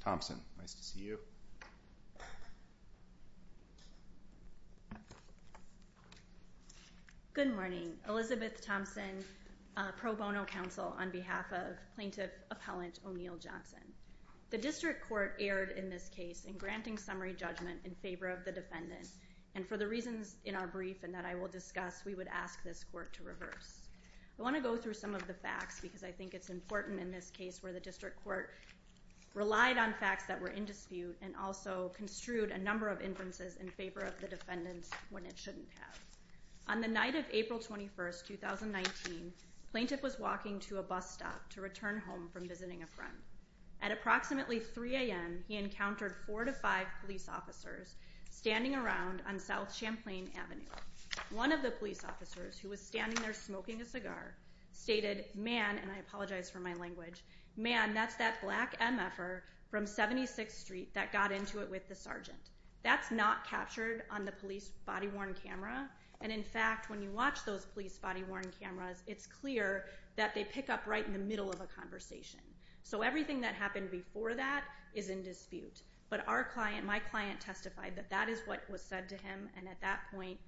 Thompson, nice to see you. Good morning, Elizabeth Thompson, pro bono counsel on behalf of plaintiff appellant O'Neal Johnson. The district court erred in this case in granting summary judgment in favor of the defendant and for the reasons in our brief and that I will discuss, we would ask this court to I want to go through some of the facts because I think it's important in this case where the district court relied on facts that were in dispute and also construed a number of differences in favor of the defendants when it shouldn't have. On the night of April 21st, 2019, plaintiff was walking to a bus stop to return home from visiting a friend. At approximately 3 a.m., he encountered four to five police officers standing around on South Champlain Avenue. One of the police officers who was standing there smoking a cigar stated, man, and I apologize for my language, man, that's that black MFR from 76th Street that got into it with the sergeant. That's not captured on the police body-worn camera and in fact, when you watch those police body-worn cameras, it's clear that they pick up right in the middle of a conversation. So everything that happened before that is in dispute, but our client, my client testified that that is what was said to him and at that point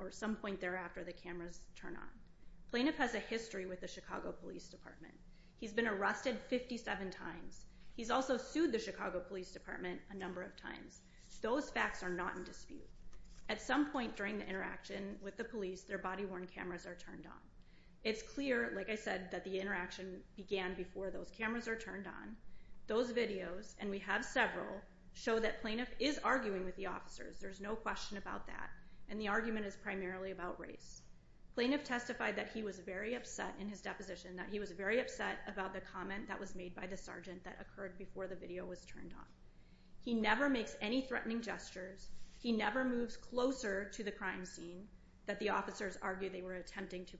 or some point thereafter, the cameras turn on. Plaintiff has a history with the Chicago Police Department. He's been arrested 57 times. He's also sued the Chicago Police Department a number of times. Those facts are not in dispute. At some point during the interaction with the police, their body-worn cameras are turned on. It's clear, like I said, that the interaction began before those cameras are turned on. Those videos, and we have several, show that plaintiff is arguing with the officers. There's no question about that and the argument is primarily about race. Plaintiff testified that he was very upset in his deposition, that he was very upset about the comment that was made by the sergeant that occurred before the video was turned on. He never makes any threatening gestures. He never moves closer to the crime scene that the officers argued they were attempting to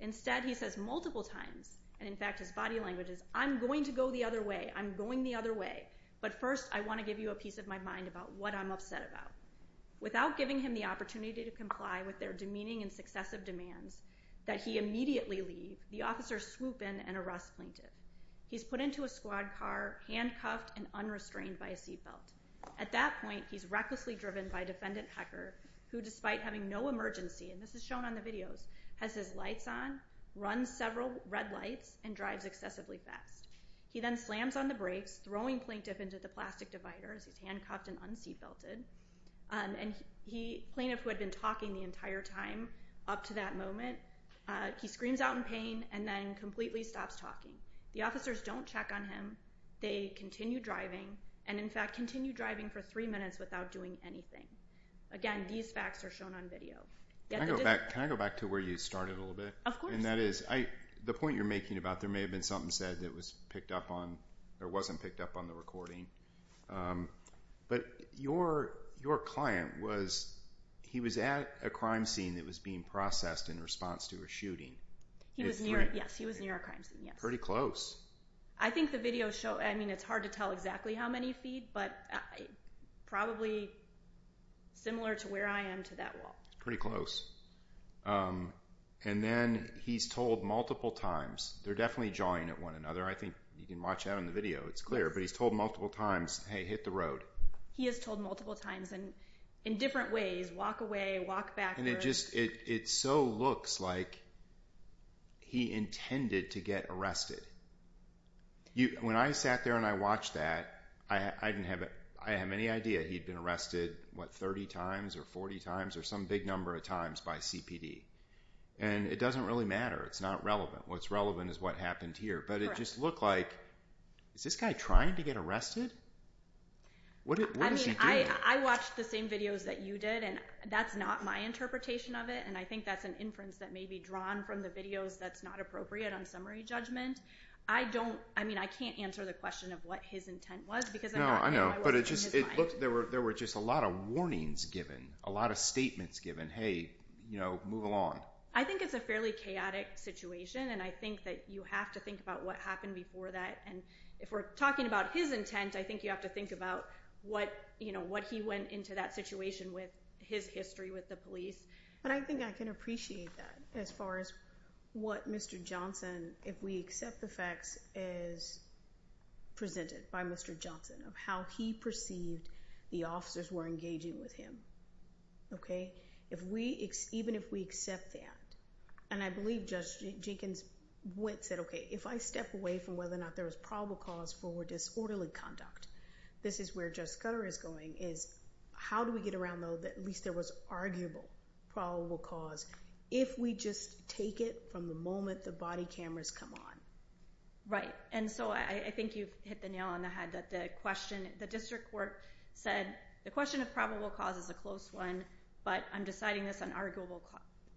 Instead, he says multiple times, and in fact his body language is, I'm going to go the other way. I'm going the other way, but first I want to give you a piece of my mind about what I'm upset about. Without giving him the opportunity to comply with their demeaning and successive demands that he immediately leave, the officers swoop in and arrest plaintiff. He's put into a squad car, handcuffed and unrestrained by a seatbelt. At that point, he's recklessly driven by defendant Hecker, who despite having no emergency, and this is shown on the videos, has his lights on, runs several red lights, and drives excessively fast. He then slams on the brakes, throwing plaintiff into the plastic dividers, he's handcuffed and unseatbelted, and plaintiff, who had been talking the entire time up to that moment, he screams out in pain, and then completely stops talking. The officers don't check on him. They continue driving, and in fact, continue driving for three minutes without doing anything. Again, these facts are shown on video. Can I go back to where you started a little bit? Of course. And that is, the point you're making about there may have been something said that was picked up on, or wasn't picked up on the recording, but your client was, he was at a crime scene that was being processed in response to a shooting. He was near, yes, he was near a crime scene, yes. Pretty close. I think the video shows, I mean, it's hard to tell exactly how many feet, but probably similar to where I am to that wall. Pretty close. And then, he's told multiple times, they're definitely jawing at one another. I think you can watch that on the video, it's clear. But he's told multiple times, hey, hit the road. He is told multiple times, and in different ways, walk away, walk backwards. And it just, it so looks like he intended to get arrested. When I sat there and I watched that, I didn't have, I have any idea he'd been arrested, what, 30 times, or 40 times, or some big number of times by CPD. And it doesn't really matter. It's not relevant. What's relevant is what happened here. Correct. But it just looked like, is this guy trying to get arrested? What is he doing? I mean, I watched the same videos that you did, and that's not my interpretation of it, and I think that's an inference that may be drawn from the videos that's not appropriate on summary judgment. I don't, I mean, I can't answer the question of what his intent was, because I'm not sure No, I know, but it just, it looked, there were just a lot of warnings given. A lot of statements given. Hey, you know, move along. I think it's a fairly chaotic situation, and I think that you have to think about what happened before that, and if we're talking about his intent, I think you have to think about what, you know, what he went into that situation with, his history with the police. And I think I can appreciate that, as far as what Mr. Johnson, if we accept the facts, is presented by Mr. Johnson, of how he perceived the officers were engaging with him. Okay? If we, even if we accept that, and I believe Judge Jenkins said, okay, if I step away from whether or not there was probable cause for disorderly conduct, this is where Judge Scudder is going, is how do we get around, though, that at least there was arguable probable cause, if we just take it from the moment the body cameras come on? Right, and so I think you've hit the nail on the head, that the question, the district court said, the question of probable cause is a close one, but I'm deciding this on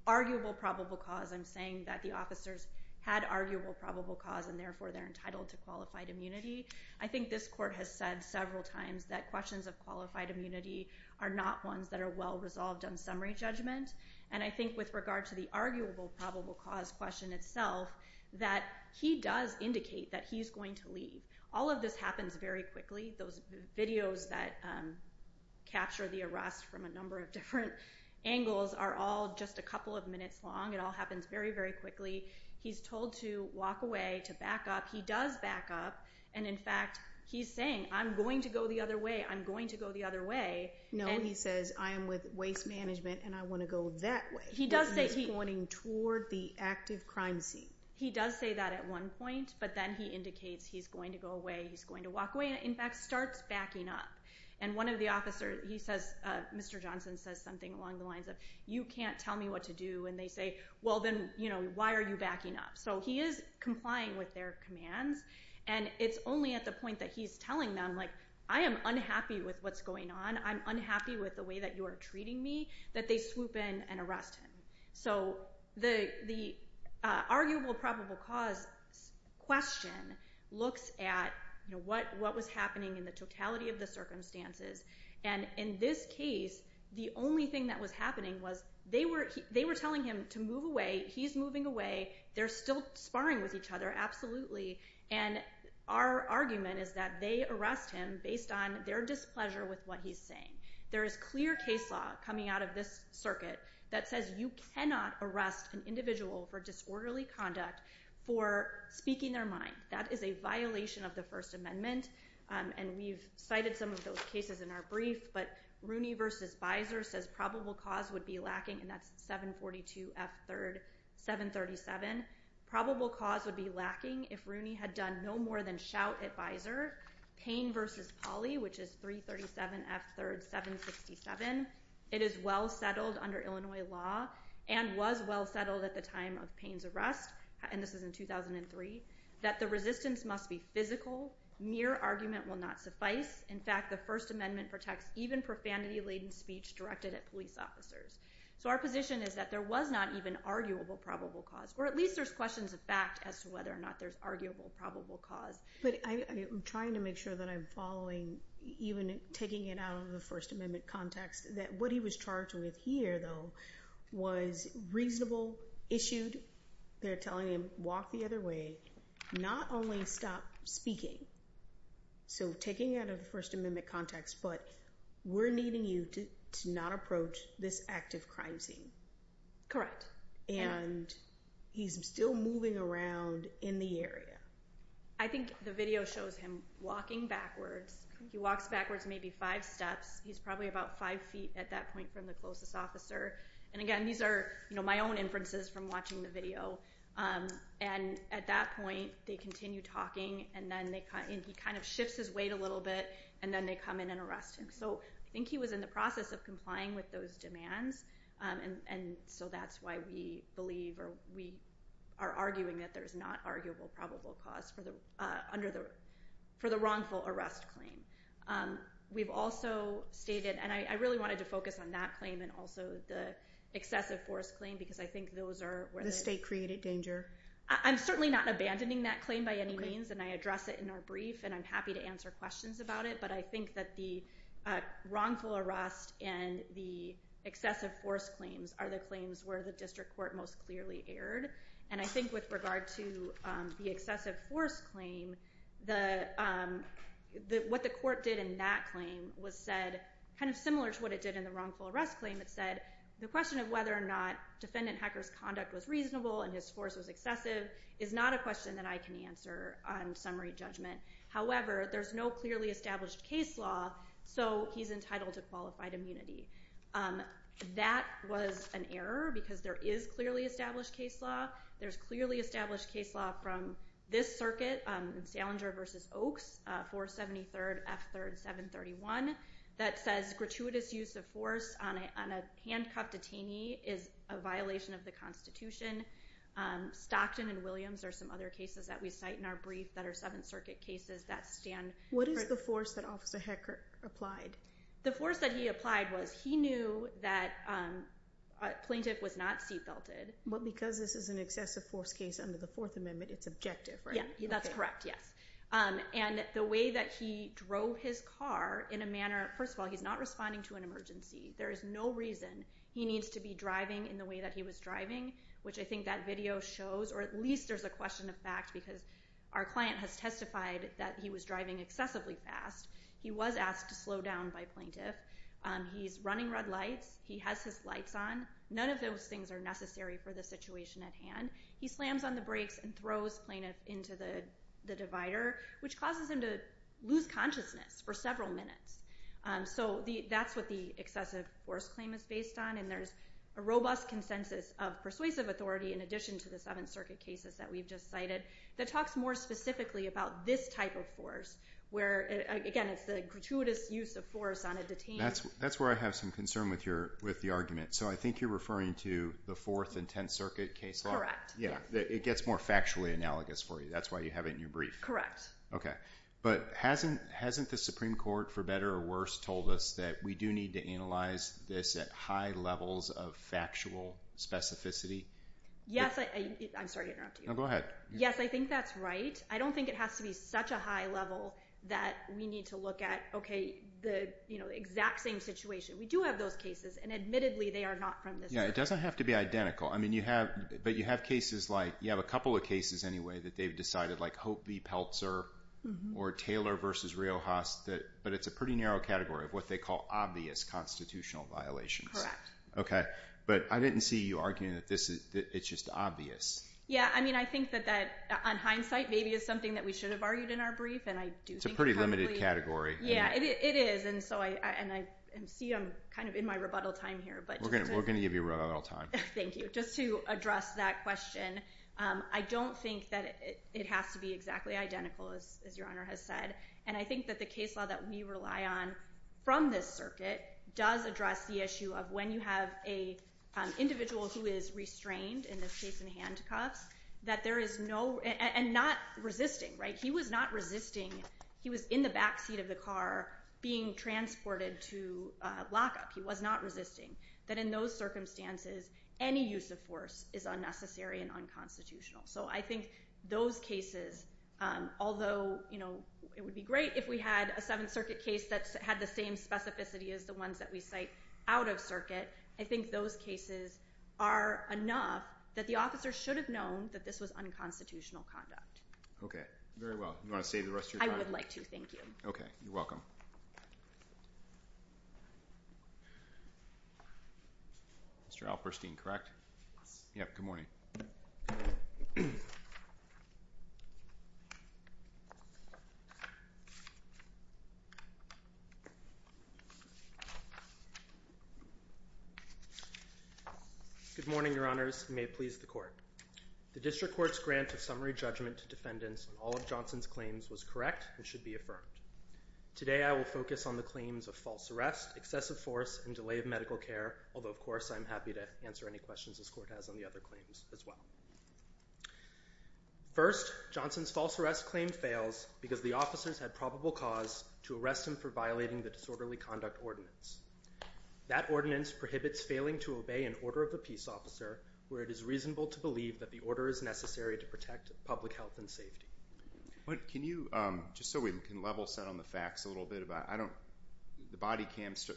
arguable probable cause, I'm saying that the officers had arguable probable cause, and therefore they're entitled to qualified immunity. I think this court has said several times that questions of qualified immunity are not ones that are well resolved on summary judgment, and I think with regard to the arguable probable cause question itself, that he does indicate that he's going to leave. All of this happens very quickly. Those videos that capture the arrest from a number of different angles are all just a couple of minutes long. It all happens very, very quickly. He's told to walk away, to back up. He does back up, and in fact, he's saying, I'm going to go the other way, I'm going to go the other way. No, he says, I am with Waste Management, and I want to go that way. He does say he's pointing toward the active crime scene. He does say that at one point, but then he indicates he's going to go away, he's going to walk away, and in fact, starts backing up. One of the officers, he says, Mr. Johnson says something along the lines of, you can't tell me what to do, and they say, well then, why are you backing up? He is complying with their commands, and it's only at the point that he's telling them, I am unhappy with what's going on, I'm unhappy with the way that you are treating me, that they swoop in and arrest him. So the arguable probable cause question looks at what was happening in the totality of the circumstances, and in this case, the only thing that was happening was they were telling him to move away, he's moving away, they're still sparring with each other, absolutely, and our argument is that they arrest him based on their displeasure with what he's saying. There is clear case law coming out of this circuit that says you cannot arrest an individual for disorderly conduct for speaking their mind. That is a violation of the First Amendment, and we've cited some of those cases in our brief, but Rooney v. Beiser says probable cause would be lacking, and that's 742 F. 3rd, 737. Probable cause would be lacking if Rooney had done no more than shout at Beiser. Payne v. Pauley, which is 337 F. 3rd, 767, it is well settled under Illinois law, and was well settled at the time of Payne's arrest, and this was in 2003, that the resistance must be physical, mere argument will not suffice, in fact, the First Amendment protects even profanity-laden speech directed at police officers. So our position is that there was not even arguable probable cause, or at least there's questions of fact as to whether or not there's arguable probable cause. But I'm trying to make sure that I'm following, even taking it out of the First Amendment context, that what he was charged with here, though, was reasonable, issued, they're telling him, walk the other way, not only stop speaking, so taking it out of the First Amendment context, but we're needing you to not approach this active crime scene. Correct. And he's still moving around in the area. I think the video shows him walking backwards, he walks backwards maybe five steps, he's probably about five feet at that point from the closest officer, and again, these are my own inferences from watching the video, and at that point, they continue talking, and he kind of shifts his weight a little bit, and then they come in and arrest him. So I think he was in the process of complying with those demands, and so that's why we believe or we are arguing that there's not arguable probable cause for the wrongful arrest claim. We've also stated, and I really wanted to focus on that claim and also the excessive force claim, because I think those are where the state created danger. I'm certainly not abandoning that claim by any means, and I address it in our brief, and I'm happy to answer questions about it, but I think that the wrongful arrest and the excessive force claims are the claims where the district court most clearly erred, and I think with regard to the excessive force claim, what the court did in that claim was said, kind of similar to what it did in the wrongful arrest claim, it said the question of whether or not defendant Hecker's conduct was reasonable and his force was excessive is not a question that I can answer on summary judgment. However, there's no clearly established case law, so he's entitled to qualified immunity. That was an error, because there is clearly established case law. There's clearly established case law from this circuit, Salinger v. Oaks, 473rd F. 3rd 731, that says gratuitous use of force on a handcuffed detainee is a violation of the Constitution. Stockton and Williams are some other cases that we cite in our brief that are Seventh Circuit cases that stand for... What is the force that Officer Hecker applied? The force that he applied was he knew that a plaintiff was not seat belted. But because this is an excessive force case under the Fourth Amendment, it's objective, right? Yeah, that's correct, yes. And the way that he drove his car in a manner... First of all, he's not responding to an emergency. There is no reason he needs to be driving in the way that he was driving, which I think that video shows, or at least there's a question of fact, because our client has testified that he was driving excessively fast. He was asked to slow down by plaintiff. He's running red lights. He has his lights on. None of those things are necessary for the situation at hand. He slams on the brakes and throws plaintiff into the divider, which causes him to lose consciousness for several minutes. So that's what the excessive force claim is based on, and there's a robust consensus of persuasive authority in addition to the Seventh Circuit cases that we've just cited that talks more specifically about this type of force, where, again, it's the gratuitous use of force on a detained... That's where I have some concern with the argument. So I think you're referring to the Fourth and Tenth Circuit case law. Correct. It gets more factually analogous for you. That's why you have it in your brief. Correct. Okay. But hasn't the Supreme Court, for better or worse, told us that we do need to analyze this at high levels of factual specificity? Yes. I'm sorry to interrupt you. No, go ahead. Yes, I think that's right. I don't think it has to be such a high level that we need to look at, okay, the exact same situation. We do have those cases, and admittedly, they are not from this case. Yeah, it doesn't have to be identical. But you have cases like... You have a couple of cases, anyway, that they've decided, like Hope v. Pelzer or Taylor v. Riojas, but it's a pretty narrow category of what they call obvious constitutional violations. Okay. But I didn't see you arguing that it's just obvious. Yeah. I mean, I think that on hindsight, maybe it's something that we should have argued in our brief, and I do think... It's a pretty limited category. Yeah, it is. And so I see I'm kind of in my rebuttal time here. We're going to give you rebuttal time. Thank you. Just to address that question, I don't think that it has to be exactly identical, as Your Honor has said. And I think that the case law that we rely on from this circuit does address the issue of when you have an individual who is restrained, in this case in handcuffs, that there is no... And not resisting, right? He was not resisting. He was in the backseat of the car being transported to lockup. He was not resisting. That in those circumstances, any use of force is unnecessary and unconstitutional. So I think those cases, although it would be great if we had a Seventh Circuit case that had the same specificity as the ones that we cite out of circuit, I think those cases are enough that the officer should have known that this was unconstitutional conduct. Okay. Very well. You want to save the rest of your time? I would like to. Thank you. Okay. You're welcome. Mr. Alperstein, correct? Yes. Good morning. Good morning, Your Honors. May it please the Court. The District Court's grant of summary judgment to defendants on all of Johnson's claims was correct and should be affirmed. Today I will focus on the claims of false arrest, excessive force, and delay of medical care, although, of course, I'm happy to answer any questions this Court has on the other claims as well. First, Johnson's false arrest claim fails because the officers had probable cause to arrest him for violating the disorderly conduct ordinance. That ordinance prohibits failing to obey an order of the peace officer where it is reasonable to believe that the order is necessary to protect public health and safety. Can you, just so we can level set on the facts a little bit, the body cams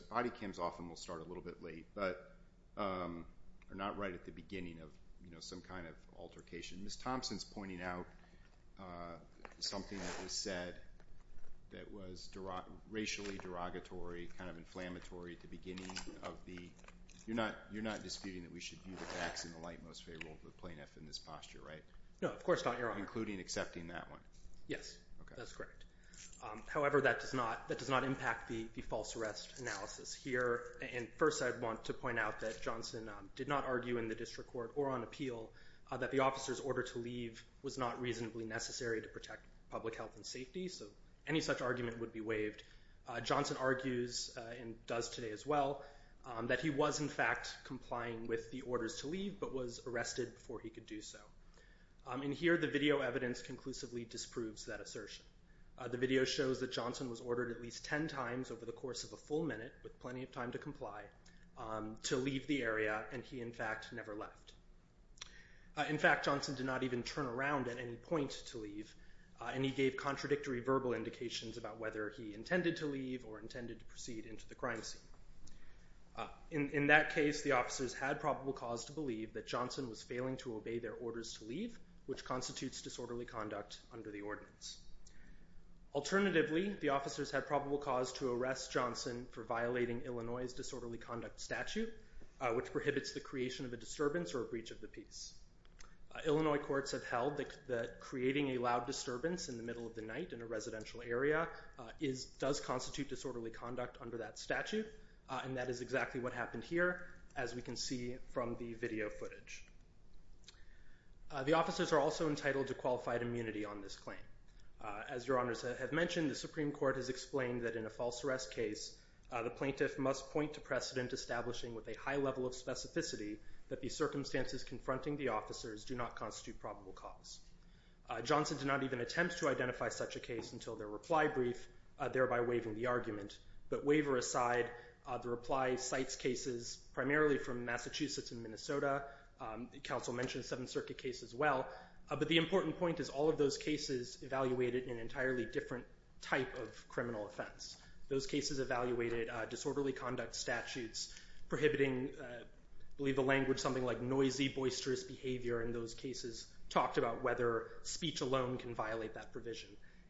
often will start a little bit late, but are not right at the beginning of some kind of altercation. Ms. Thompson's pointing out something that was said that was racially derogatory, kind of inflammatory at the beginning of the, you're not disputing that we should view the facts in the light most favorable for the plaintiff in this posture, right? No, of course not, Your Honor. Including accepting that one? Yes. Okay. That's correct. However, that does not impact the false arrest analysis here, and first I want to point out that Johnson did not argue in the district court or on appeal that the officer's order to leave was not reasonably necessary to protect public health and safety, so any such argument would be waived. Johnson argues, and does today as well, that he was in fact complying with the orders to leave, but was arrested before he could do so. In here, the video evidence conclusively disproves that assertion. The video shows that Johnson was ordered at least ten times over the course of a full minute, with plenty of time to comply, to leave the area, and he in fact never left. In fact, Johnson did not even turn around at any point to leave, and he gave contradictory verbal indications about whether he intended to leave or intended to proceed into the crime scene. In that case, the officers had probable cause to believe that Johnson was failing to obey their orders to leave, which constitutes disorderly conduct under the ordinance. Alternatively, the officers had probable cause to arrest Johnson for violating Illinois' disorderly conduct statute, which prohibits the creation of a disturbance or a breach of the peace. Illinois courts have held that creating a loud disturbance in the middle of the night in a residential area does constitute disorderly conduct under that statute, and that is exactly what happened here, as we can see from the video footage. The officers are also entitled to qualified immunity on this claim. As Your Honors have mentioned, the Supreme Court has explained that in a false arrest case, the plaintiff must point to precedent establishing with a high level of specificity that the circumstances confronting the officers do not constitute probable cause. Johnson did not even attempt to identify such a case until their reply brief, thereby waiving the argument, but waiver aside, the reply cites cases primarily from Massachusetts and Minnesota, the council mentioned the Seventh Circuit case as well, but the important point is all of those cases evaluated in an entirely different type of criminal offense. Those cases evaluated disorderly conduct statutes prohibiting, I believe the language is something like noisy, boisterous behavior, and those cases talked about whether speech alone can violate that provision.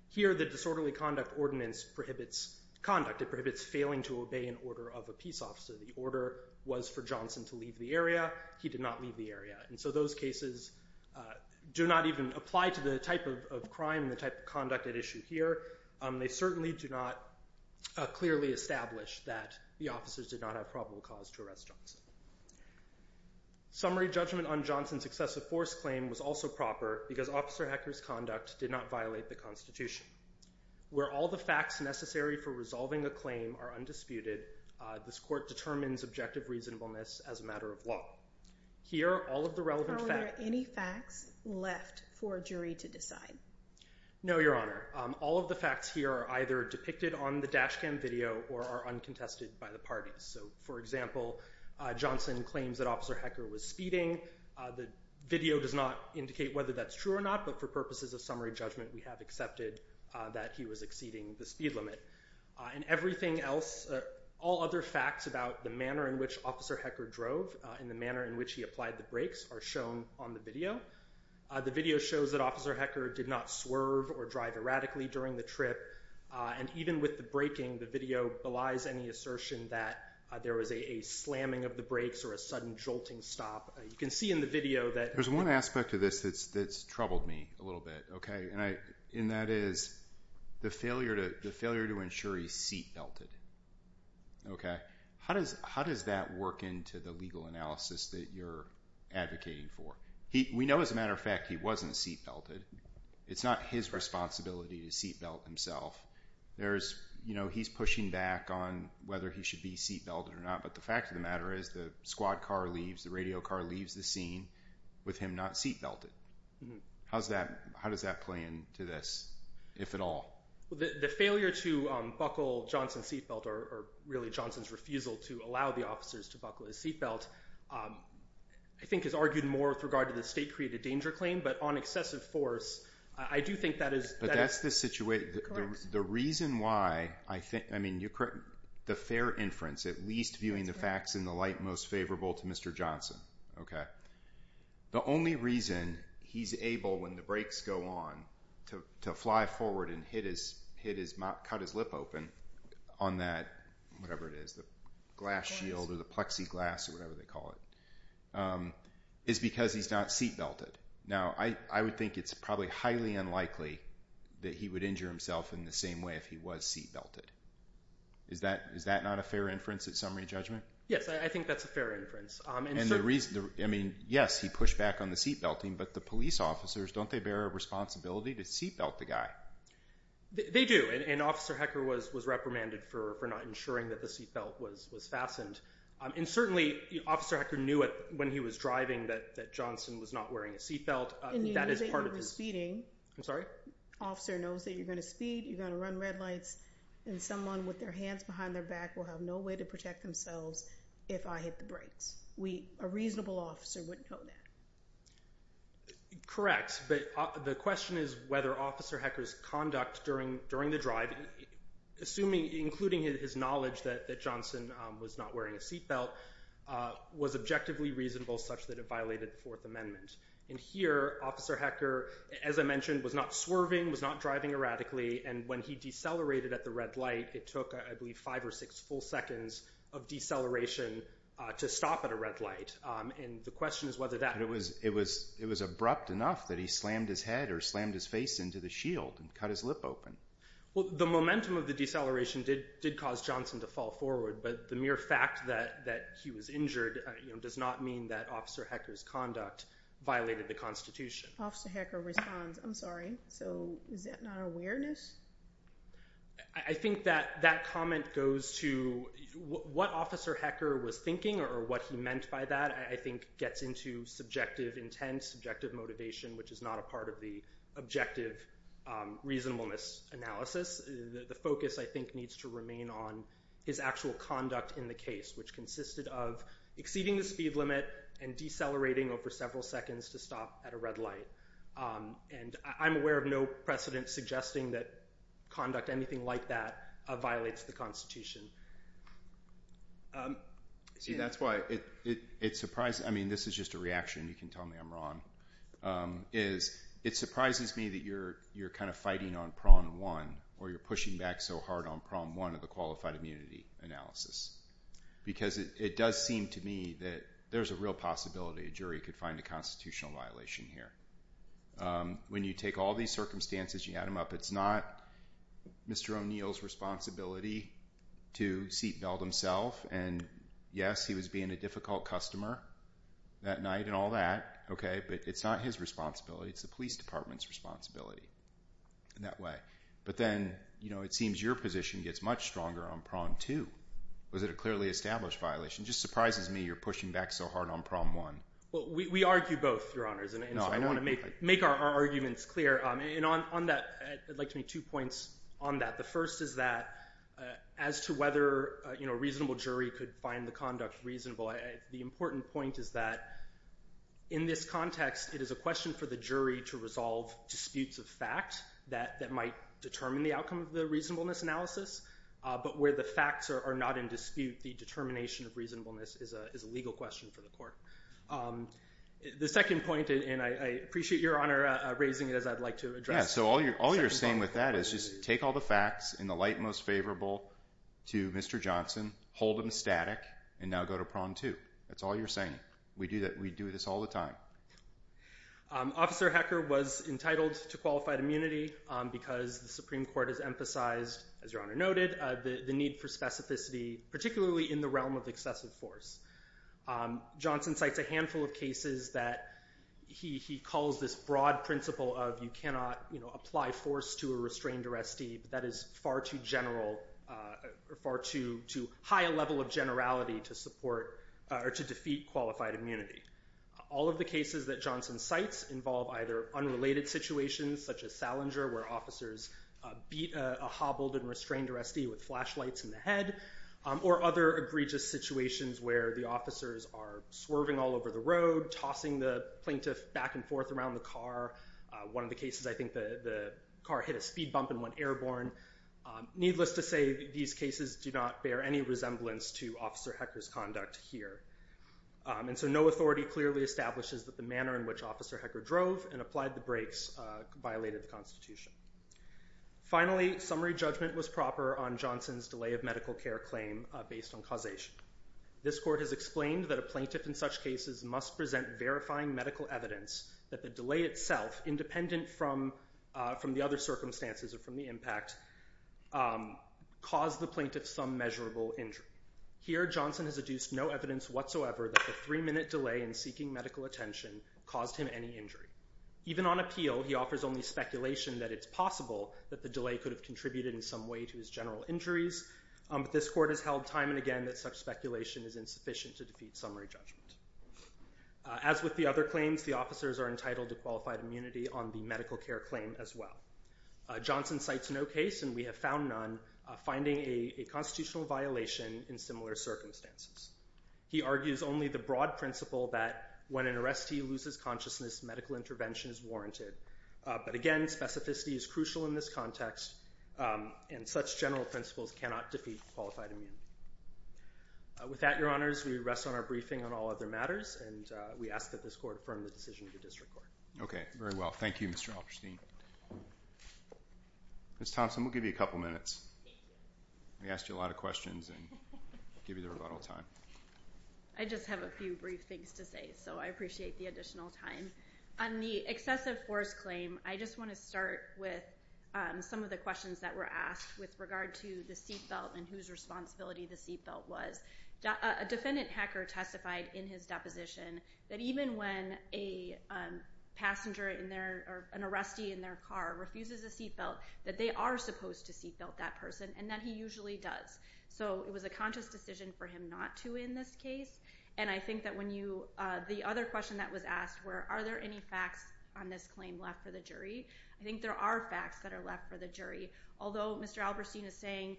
Here, the disorderly conduct ordinance prohibits conduct. It prohibits failing to obey an order of a peace officer. The order was for Johnson to leave the area. He did not leave the area, and so those cases do not even apply to the type of crime and the type of conduct at issue here. They certainly do not clearly establish that the officers did not have probable cause to arrest Johnson. Summary judgment on Johnson's excessive force claim was also proper because Officer Hecker's conduct did not violate the Constitution. Where all the facts necessary for resolving a claim are undisputed, this court determines objective reasonableness as a matter of law. Here, all of the relevant facts... Are there any facts left for a jury to decide? No, Your Honor. All of the facts here are either depicted on the dash cam video or are uncontested by the parties. So, for example, Johnson claims that Officer Hecker was speeding. The video does not indicate whether that's true or not, but for purposes of summary judgment, we have accepted that he was exceeding the speed limit. In everything else, all other facts about the manner in which Officer Hecker drove and the manner in which he applied the brakes are shown on the video. The video shows that Officer Hecker did not swerve or drive erratically during the trip, and even with the braking, the video belies any assertion that there was a slamming of the brakes or a sudden jolting stop. You can see in the video that... There's one aspect of this that's troubled me a little bit, okay? And that is the failure to ensure he's seat-belted, okay? How does that work into the legal analysis that you're advocating for? We know, as a matter of fact, he wasn't seat-belted. It's not his responsibility to seat-belt himself. He's pushing back on whether he should be seat-belted or not, but the fact of the matter is the squad car leaves, the radio car leaves the scene with him not seat-belted. How does that play into this, if at all? The failure to buckle Johnson's seat-belt, or really Johnson's refusal to allow the officers to buckle his seat-belt, I think is argued more with regard to the state-created danger claim, but on excessive force, I do think that is... But that's the situation... The reason why I think, I mean, you're correct, the fair inference, at least viewing the facts in the light most favorable to Mr. Johnson, okay? The only reason he's able, when the brakes go on, to fly forward and cut his lip open on that, whatever it is, the glass shield or the plexiglass or whatever they call it, is because he's not seat-belted. Now, I would think it's probably highly unlikely that he would injure himself in the same way if he was seat-belted. Is that not a fair inference at summary judgment? Yes, I think that's a fair inference. And the reason, I mean, yes, he pushed back on the seat-belting, but the police officers, don't they bear a responsibility to seat-belt the guy? They do, and Officer Hecker was reprimanded for not ensuring that the seat-belt was fastened. And certainly, Officer Hecker knew it when he was driving that Johnson was not wearing a seat-belt. And you knew that you were speeding. I'm sorry? Officer knows that you're going to speed, you're going to run red lights, and someone with their hands behind their back will have no way to protect themselves if I hit the brakes. A reasonable officer wouldn't know that. Correct, but the question is whether Officer Hecker's conduct during the drive, including his knowledge that Johnson was not wearing a seat-belt, was objectively reasonable such that it violated the Fourth Amendment. And here, Officer Hecker, as I mentioned, was not swerving, was not driving erratically, and when he decelerated at the red light, it took, I believe, five or six full seconds of deceleration to stop at a red light. And the question is whether that... But it was abrupt enough that he slammed his head or slammed his face into the shield and cut his lip open. Well, the momentum of the deceleration did cause Johnson to fall forward, but the mere fact that he was injured does not mean that Officer Hecker's conduct violated the Constitution. Officer Hecker responds, I'm sorry, so is that not awareness? I think that that comment goes to what Officer Hecker was thinking or what he meant by that I think gets into subjective intent, subjective motivation, which is not a part of the objective reasonableness analysis. The focus, I think, needs to remain on his actual conduct in the case, which consisted of exceeding the speed limit and decelerating over several seconds to stop at a red light. And I'm aware of no precedent suggesting that conduct, anything like that, violates the Constitution. See, that's why it surprises me. I mean, this is just a reaction. You can tell me I'm wrong. It surprises me that you're kind of fighting on prong one or you're pushing back so hard on prong one of the qualified immunity analysis because it does seem to me that there's a real possibility a jury could find a constitutional violation here. When you take all these circumstances and you add them up, it's not Mr. O'Neill's responsibility to seat-belt himself. And yes, he was being a difficult customer that night and all that, okay, but it's not his responsibility. It's the police department's responsibility in that way. But then, you know, it seems your position gets much stronger on prong two. Was it a clearly established violation? It just surprises me you're pushing back so hard on prong one. Well, we argue both, Your Honors, and so I want to make our arguments clear. And on that, I'd like to make two points on that. The first is that as to whether a reasonable jury could find the conduct reasonable, the important point is that in this context, it is a question for the jury to resolve disputes of fact that might determine the outcome of the reasonableness analysis, but where the facts are not in dispute, the determination of reasonableness is a legal question for the court. The second point, and I appreciate Your Honor raising it as I'd like to address. Yeah, so all you're saying with that is just take all the facts in the light most favorable to Mr. Johnson, hold them static, and now go to prong two. That's all you're saying. We do this all the time. Officer Hecker was entitled to qualified immunity because the Supreme Court has emphasized, as Your Honor noted, the need for specificity, particularly in the realm of excessive force. Johnson cites a handful of cases that he calls this broad principle of you cannot apply force to a restrained arrestee. That is far too general or far too high a level of generality to support or to defeat qualified immunity. All of the cases that Johnson cites involve either unrelated situations such as Salinger where officers beat a hobbled and restrained arrestee with flashlights in the head, or other egregious situations where the officers are swerving all over the road, tossing the plaintiff back and forth around the car. One of the cases I think the car hit a speed bump and went airborne. Needless to say, these cases do not bear any resemblance to Officer Hecker's conduct here. And so no authority clearly establishes that the manner in which Officer Hecker drove and applied the brakes violated the Constitution. Finally, summary judgment was proper on Johnson's delay of medical care claim based on causation. This court has explained that a plaintiff in such cases must present verifying medical evidence that the delay itself, independent from the other circumstances or from the impact, caused the plaintiff some measurable injury. Here Johnson has adduced no evidence whatsoever that the three-minute delay in seeking medical attention caused him any injury. Even on appeal, he offers only speculation that it's possible that the delay could have contributed in some way to his general injuries, but this court has held time and again that such speculation is insufficient to defeat summary judgment. As with the other claims, the officers are entitled to qualified immunity on the medical care claim as well. Johnson cites no case, and we have found none, finding a constitutional violation in similar circumstances. He argues only the broad principle that when an arrestee loses consciousness, medical intervention is warranted. But again, specificity is crucial in this context, and such general principles cannot defeat qualified immunity. With that, Your Honors, we rest on our briefing on all other matters, and we ask that this court affirm the decision of the District Court. Okay, very well. Thank you, Mr. Alperstein. Ms. Thompson, we'll give you a couple minutes. We asked you a lot of questions, and we'll give you the rebuttal time. I just have a few brief things to say, so I appreciate the additional time. On the excessive force claim, I just want to start with some of the questions that were asked with regard to the seatbelt and whose responsibility the seatbelt was. A defendant, Hacker, testified in his deposition that even when an arrestee in their car refuses a seatbelt, that they are supposed to seatbelt that person, and that he usually does. So it was a conscious decision for him not to in this case, and I think that when you—the other question that was asked were are there any facts on this claim left for the jury. I think there are facts that are left for the jury. Although Mr. Alperstein is saying,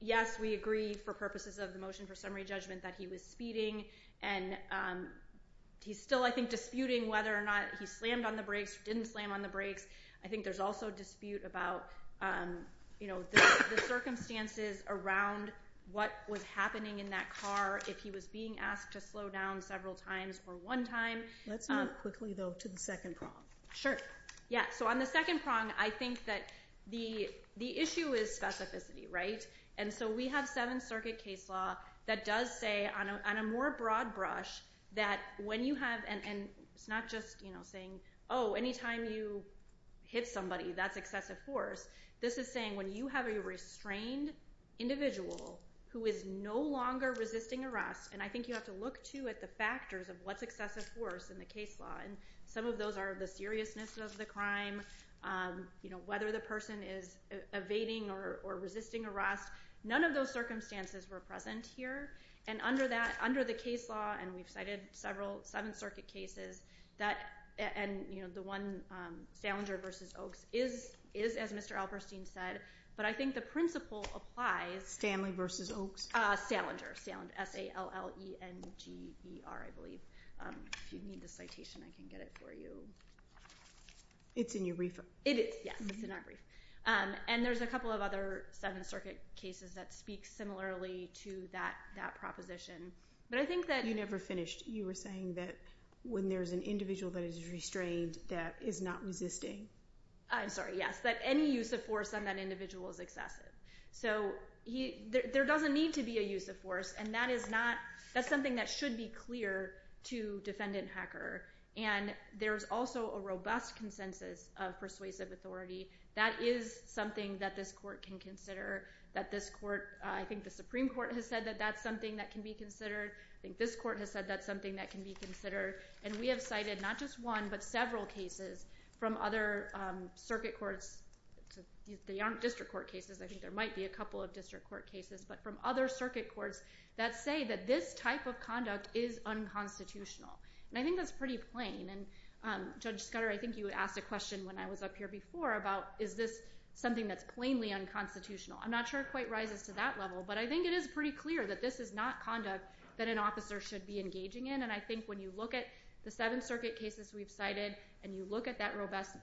yes, we agree for purposes of the motion for summary judgment that he was speeding, and he's still, I think, disputing whether or not he slammed on the brakes, didn't slam on the brakes. I think there's also dispute about, you know, the circumstances around what was happening in that car, if he was being asked to slow down several times or one time. Let's move quickly, though, to the second prong. Sure. Yeah, so on the second prong, I think that the issue is specificity, right? And so we have Seventh Circuit case law that does say on a more broad brush that when you have—and it's not just, you know, saying, oh, any time you hit somebody, that's excessive force. This is saying when you have a restrained individual who is no longer resisting arrest, and I think you have to look, too, at the factors of what's excessive force in the case law, and some of those are the seriousness of the crime, you know, whether the person is evading or resisting arrest. None of those circumstances were present here, and under the case law, and we've cited several Seventh Circuit cases, and, you know, the one, Salinger v. Oaks, is, as Mr. Alberstein said, but I think the principle applies. Stanley v. Oaks? Salinger, S-A-L-L-E-N-G-E-R, I believe. If you need the citation, I can get it for you. It's in your brief. It is, yes. It's in our brief. And there's a couple of other Seventh Circuit cases that speak similarly to that proposition, but I think that— You never finished. You were saying that when there's an individual that is restrained that is not resisting. I'm sorry, yes, that any use of force on that individual is excessive. So there doesn't need to be a use of force, and that is not—that's something that should be clear to defendant hacker, and there's also a robust consensus of persuasive authority. That is something that this court can consider, that this court— I think the Supreme Court has said that that's something that can be considered. I think this court has said that's something that can be considered, and we have cited not just one but several cases from other circuit courts. They aren't district court cases. I think there might be a couple of district court cases, but from other circuit courts that say that this type of conduct is unconstitutional, and I think that's pretty plain. And Judge Scudder, I think you asked a question when I was up here before about is this something that's plainly unconstitutional. I'm not sure it quite rises to that level, but I think it is pretty clear that this is not conduct that an officer should be engaging in, and I think when you look at the seven circuit cases we've cited and you look at that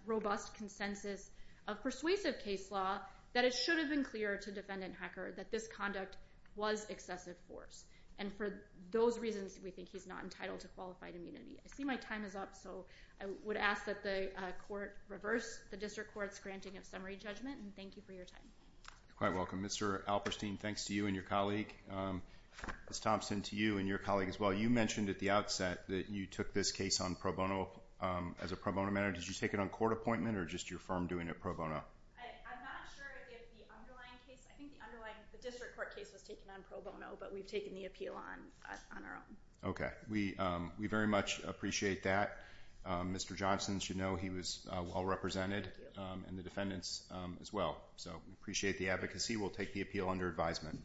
robust consensus of persuasive case law, that it should have been clear to defendant hacker that this conduct was excessive force, and for those reasons we think he's not entitled to qualified immunity. I see my time is up, so I would ask that the court reverse the district court's granting of summary judgment, and thank you for your time. You're quite welcome. Mr. Alperstein, thanks to you and your colleague. Ms. Thompson, to you and your colleague as well. You mentioned at the outset that you took this case on pro bono as a pro bono matter. Did you take it on court appointment or just your firm doing it pro bono? I'm not sure if the underlying case, I think the underlying district court case was taken on pro bono, but we've taken the appeal on our own. Okay. We very much appreciate that. Mr. Johnson should know he was well represented, and the defendants as well. So we appreciate the advocacy. We'll take the appeal under advisement.